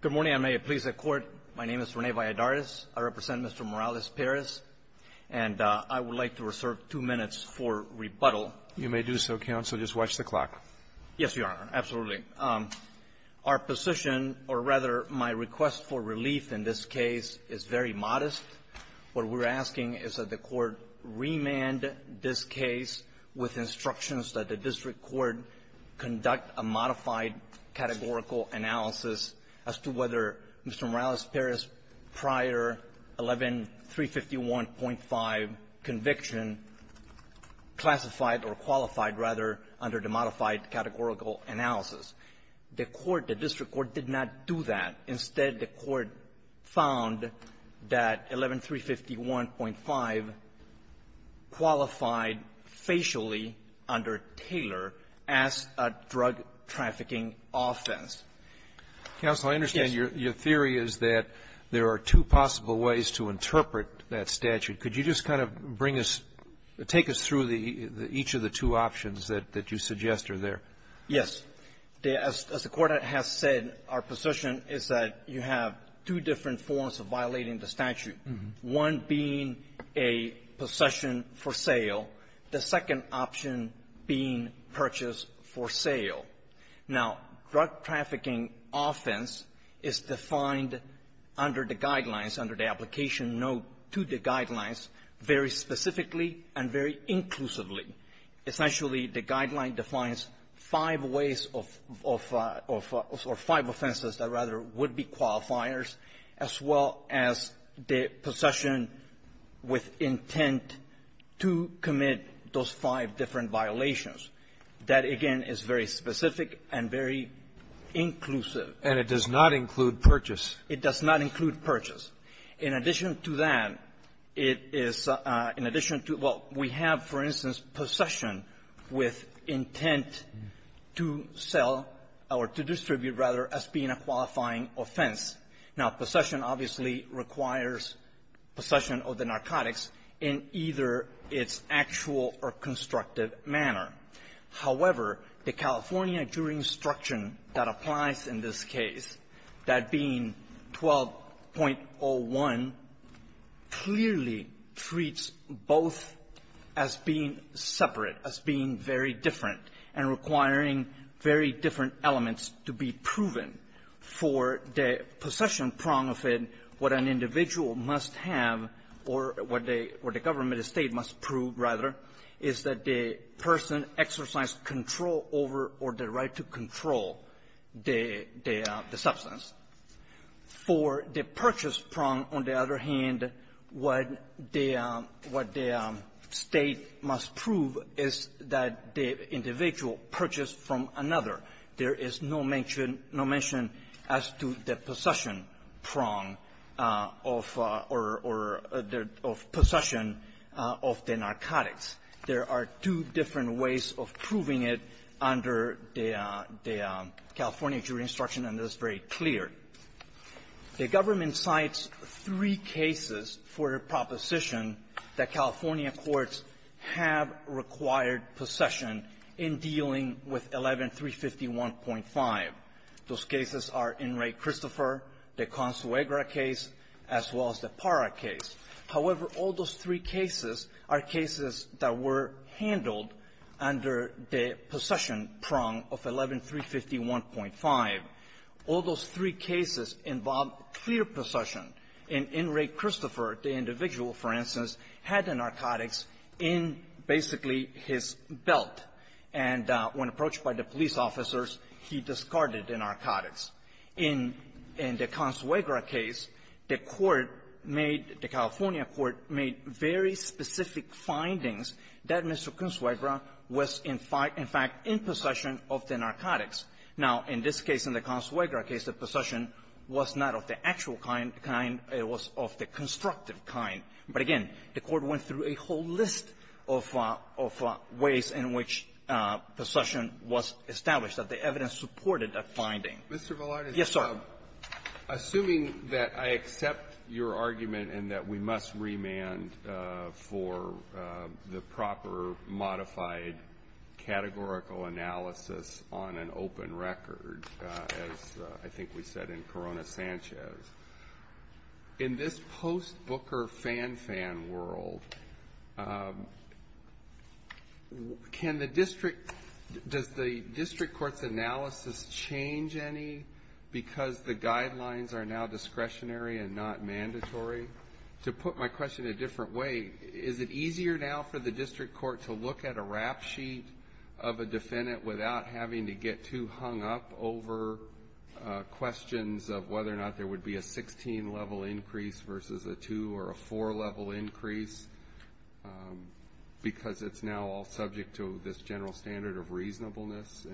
Good morning, and may it please the Court, my name is Rene Valladares. I represent Mr. Morales-Perez, and I would like to reserve two minutes for rebuttal. You may do so, Counsel. Just watch the clock. Yes, Your Honor, absolutely. Our position, or rather, my request for relief in this case is very modest. What we're asking is that the Court remand this case with instructions that the district court conduct a modified categorical analysis as to whether Mr. Morales-Perez prior 11351.5 conviction classified or qualified, rather, under the modified categorical analysis. The court, the district court, did not do that. Instead, the court found that 11351.5 qualified facially under Taylor as a drug-trafficking offense. Counsel, I understand your theory is that there are two possible ways to interpret that statute. Could you just kind of bring us or take us through the each of the two options that you suggest are there? Yes. As the Court has said, our position is that you have two different forms of violating the statute, one being a possession for sale, the second option being purchase for sale. Now, drug-trafficking offense is defined under the guidelines, under the application note to the guidelines, very specifically and very inclusively. Essentially, the guideline defines five ways of or five offenses that rather would be qualifiers as well as the possession with intent to commit those five different violations. That, again, is very specific and very inclusive. And it does not include purchase. It does not include purchase. In addition to that, it is an addition to what we have, for instance, possession with intent to sell or to distribute, rather, as being a qualifying offense. Now, possession obviously requires possession of the narcotics in either its actual or constructive manner. However, the California jury instruction that applies in this case, that being 12.1 clearly treats both as being separate, as being very different, and requiring very different elements to be proven. For the possession prong of it, what an individual must have, or what they or the government, the State must prove, rather, is that the person exercised control over or the right to control the substance. For the purchase prong, on the other hand, what the State must prove is that the individual purchased from another. There is no mention as to the possession prong of or the possession of the narcotics. There are two different ways of proving it under the California jury instruction. And it's very clear. The government cites three cases for a proposition that California courts have required possession in dealing with 11351.5. Those cases are In Re Christopher, the Consuegra case, as well as the Parra case. However, all those three cases are cases that were handled under the possession prong of 11351.5. All those three cases involve clear possession. In In Re Christopher, the individual, for instance, had the narcotics in, basically, his belt. And when approached by the police officers, he discarded the narcotics. In the Consuegra case, the court made, the California court made very specific findings that Mr. Consuegra was, in fact, in possession of the narcotics. Now, in this case, in the Consuegra case, the possession was not of the actual kind. It was of the constructive kind. But again, the court went through a whole list of ways in which possession was established, that the evidence supported that finding. Yes, sir. Assuming that I accept your argument and that we must remand for the proper modified categorical analysis on an open record, as I think we said in Corona-Sanchez, in this post-Booker fan-fan world, can the district, does the district court's analysis change any because the guidelines are now discretionary and not mandatory? To put my question a different way, is it easier now for the district court to look at a rap sheet of a defendant without having to get too hung up over questions of whether or not there would be a 16-level increase versus a 2- or a 4-level increase because it's now all subject to this general standard of reasonableness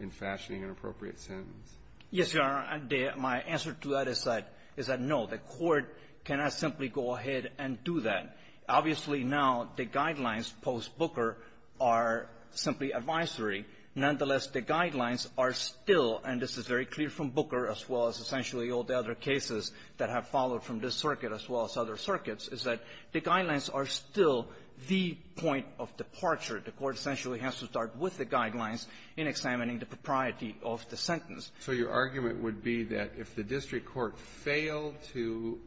in fashioning an appropriate sentence? Yes, Your Honor. My answer to that is that no, the court cannot simply go ahead and do that. Obviously, now, the guidelines post-Booker are simply advisory. Nonetheless, the guidelines are still, and this is very clear from Booker as well as essentially all the other cases that have followed from this circuit as well as other circuits, is that the guidelines are still the point of departure. The court essentially has to start with the guidelines in examining the propriety of the sentence. So your argument would be that if the district court failed to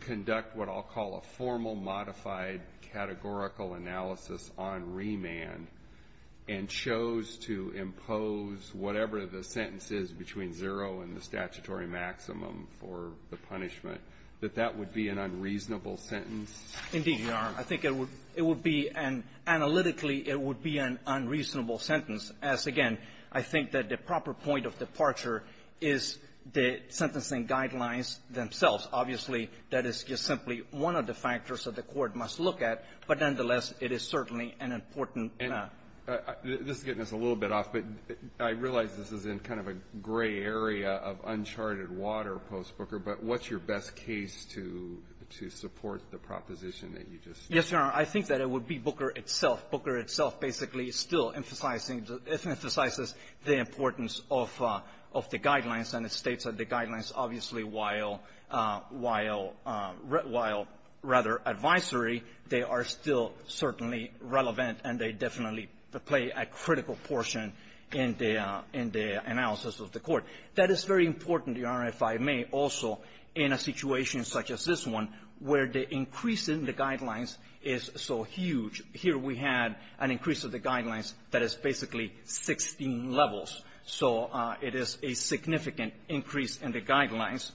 conduct what I'll call a formal modified categorical analysis on remand and chose to impose whatever the sentence is between zero and the statutory maximum for the punishment, that that would be an unreasonable sentence? Indeed, Your Honor. I think it would be an analytically it would be an unreasonable sentence as, again, I think that the proper point of departure is the sentencing guidelines themselves. Obviously, that is just simply one of the factors that the court must look at. But, nonetheless, it is certainly an important map. This is getting us a little bit off, but I realize this is in kind of a gray area of uncharted water post-Booker, but what's your best case to support the proposition that you just stated? Yes, Your Honor. I think that it would be Booker itself. Booker itself basically still emphasizing the emphasizes the importance of the guidelines. And it states that the guidelines, obviously, while rather advisory, they are still certainly relevant, and they definitely play a critical portion in the analysis of the court. That is very important, Your Honor, if I may, also, in a situation such as this one, where the increase in the guidelines is so huge. Here we had an increase of the guidelines that is basically 16 levels. So it is a significant increase in the guidelines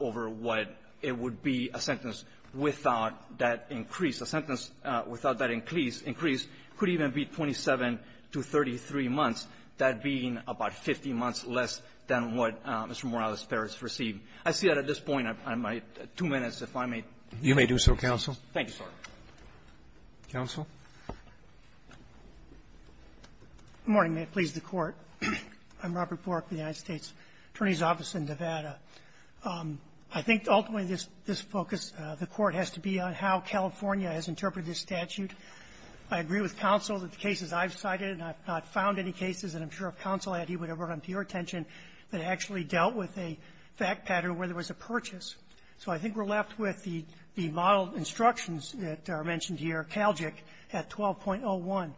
over what it would be a sentence without that increase. A sentence without that increase could even be 27 to 33 months, that being about 50 months less than what Mr. Morales-Perez received. I see that at this point, I might, two minutes if I may. You may do so, counsel. Thank you, sir. Counsel. Good morning. May it please the Court. I'm Robert Bork with the United States Attorney's Office in Nevada. I think ultimately this focus, the Court, has to be on how California has interpreted this statute. I agree with counsel that the cases I've cited, and I've not found any cases, and I'm sure if counsel had, he would have brought them to your attention, that actually dealt with a fact pattern where there was a purchase. So I think we're left with the model instructions that are mentioned here, CALGIC at 12.01.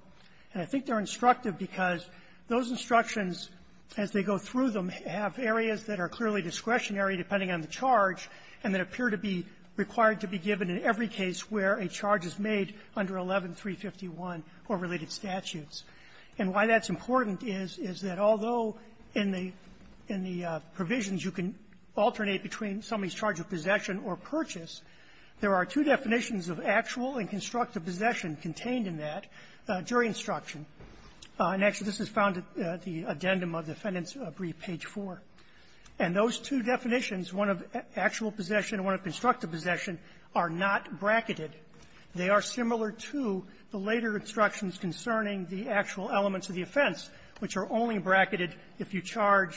And I think they're instructive because those instructions, as they go through them, have areas that are clearly discretionary depending on the charge and that appear to be required to be given in every case where a charge is made under 11351 or related statutes. And why that's important is, is that although in the provisions you can alternate between somebody's charge of possession or purchase, there are two definitions of actual and constructive possession contained in that during instruction. And actually, this is found at the addendum of the Fenton's brief, page 4. And those two definitions, one of actual possession and one of constructive possession, are not bracketed. They are similar to the later instructions concerning the actual elements of the offense, which are only bracketed if you charge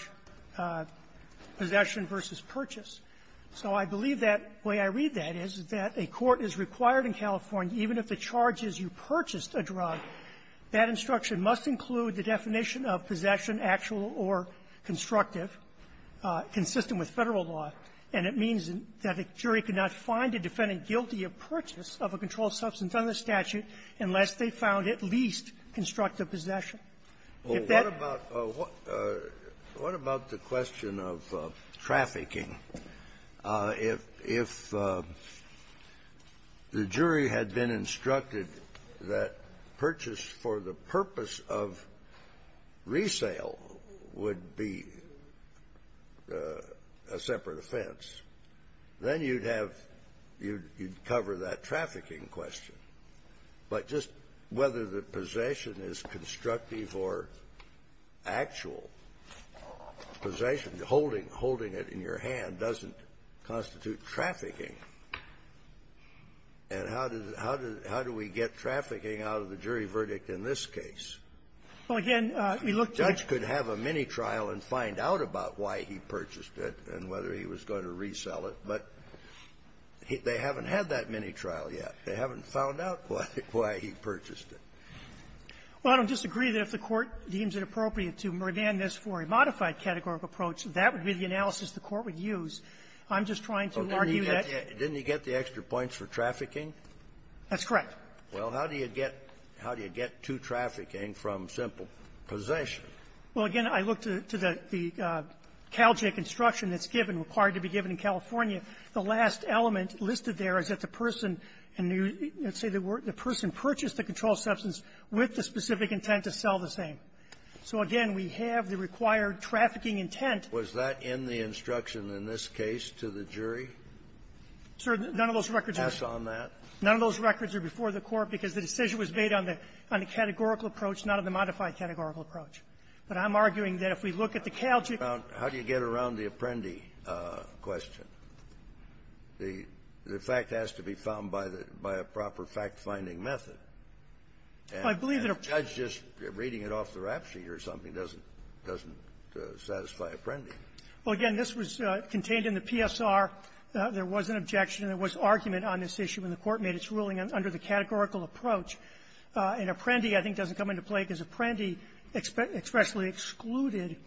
possession versus purchase. So I believe that way I read that is that a court is required in California, even if the charge is you purchased a drug, that instruction must include the definition of possession, actual or constructive, consistent with Federal law. And it means that a jury could not find a defendant guilty of purchase of a controlled substance under the statute unless they found at least constructive possession. If that --" Scalia, what about the question of trafficking? If the jury had been instructed that purchase for the purpose of resale would be a separate offense, then you'd have you'd cover that trafficking question. But just whether the possession is constructive or actual, possession, holding it in your hand, doesn't constitute trafficking. And how does it how do we get trafficking out of the jury verdict in this case? Well, again, we look to the judge could have a mini-trial and find out about why he purchased it and whether he was going to resell it. But they haven't had that mini-trial yet. They haven't found out why he purchased it. Well, I don't disagree that if the Court deems it appropriate to demand this for a modified categorical approach, that would be the analysis the Court would use. I'm just trying to argue that --" Didn't he get the extra points for trafficking? That's correct. Well, how do you get how do you get to trafficking from simple possession? Well, again, I look to the CalJIT instruction that's given, required to be given in California. The last element listed there is that the person, and let's say the person purchased the controlled substance with the specific intent to sell the same. So again, we have the required trafficking intent. Was that in the instruction in this case to the jury? Sir, none of those records are before the Court because the decision was made on the categorical approach, not on the modified categorical approach. But I'm arguing that if we look at the CalJIT ---- Well, how do you get around the Apprendi question? The fact has to be found by the by a proper fact-finding method. And a judge just reading it off the rap sheet or something doesn't satisfy Apprendi. Well, again, this was contained in the PSR. There was an objection. There was argument on this issue when the Court made its ruling under the categorical approach. And Apprendi, I think, doesn't come into play because Apprendi expressly excluded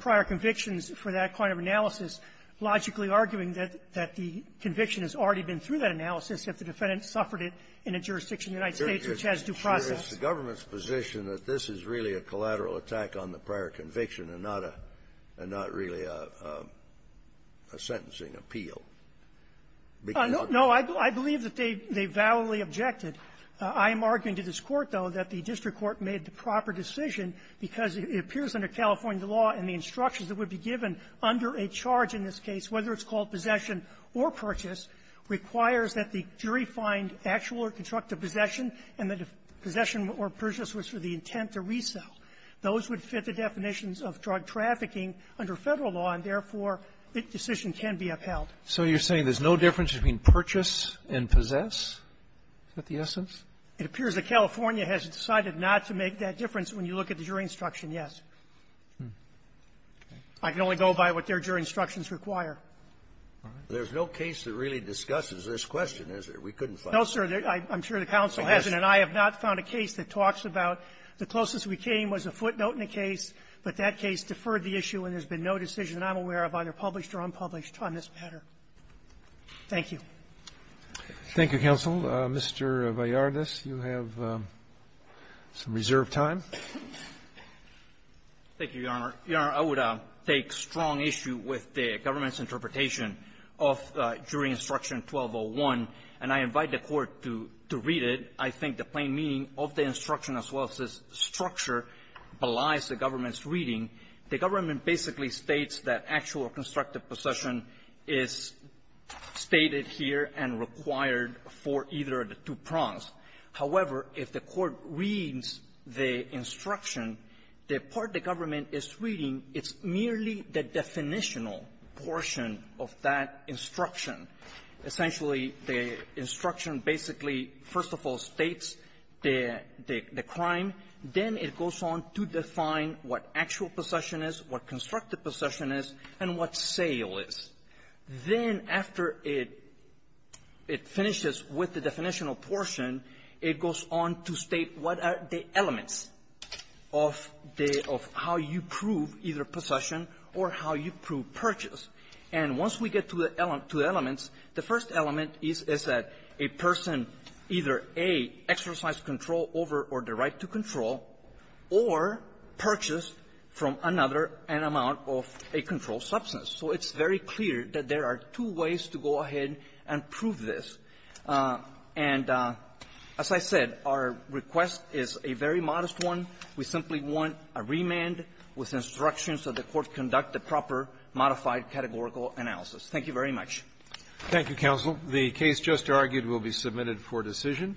prior convictions for that kind of analysis, logically arguing that the conviction has already been through that analysis if the defendant suffered it in a jurisdiction of the United States which has due process. Is the government's position that this is really a collateral attack on the prior conviction and not a really a sentencing appeal? Because of the ---- No. I believe that they validly objected. I am arguing to this Court, though, that the district court made the proper decision because it appears under California law and the instructions that would be given under a charge in this case, whether it's called possession or purchase, requires that the jury find actual or constructive possession, and that if possession or purchase was for the intent to resell, those would fit the definitions of drug trafficking under Federal law, and therefore, the decision can be upheld. So you're saying there's no difference between purchase and possess? Is that the essence? It appears that California has decided not to make that difference when you look at the jury instruction, yes. I can only go by what their jury instructions require. There's no case that really discusses this question, is there? We couldn't find one. No, sir. I'm sure the counsel hasn't. And I have not found a case that talks about the closest we came was a footnote in the case, but that case deferred the issue, and there's been no decision I'm aware of, either published or unpublished, on this matter. Thank you. Thank you, counsel. Mr. Vallardez, you have some reserved time. Thank you, Your Honor. Your Honor, I would take strong issue with the government's interpretation of jury instruction 1201, and I invite the Court to read it. I think the plain meaning of the instruction as well as the structure belies the government's view that actual or constructive possession is stated here and required for either of the two prongs. However, if the Court reads the instruction, the part the government is reading, it's merely the definitional portion of that instruction. Essentially, the instruction basically, first of all, states the crime. Then it goes on to define what actual possession is, what constructive possession is, and then it goes on to define what actual possession is and what sale is. Then, after it finishes with the definitional portion, it goes on to state what are the elements of the — of how you prove either possession or how you prove purchase. And once we get to the elements, the first element is, is that a person either, A, exercised control over or the right to control or purchased from another an amount of a controlled substance. So it's very clear that there are two ways to go ahead and prove this. And as I said, our request is a very modest one. We simply want a remand with instructions that the Court conduct the proper modified categorical analysis. Thank you very much. Thank you, counsel. The case just argued will be submitted for decision.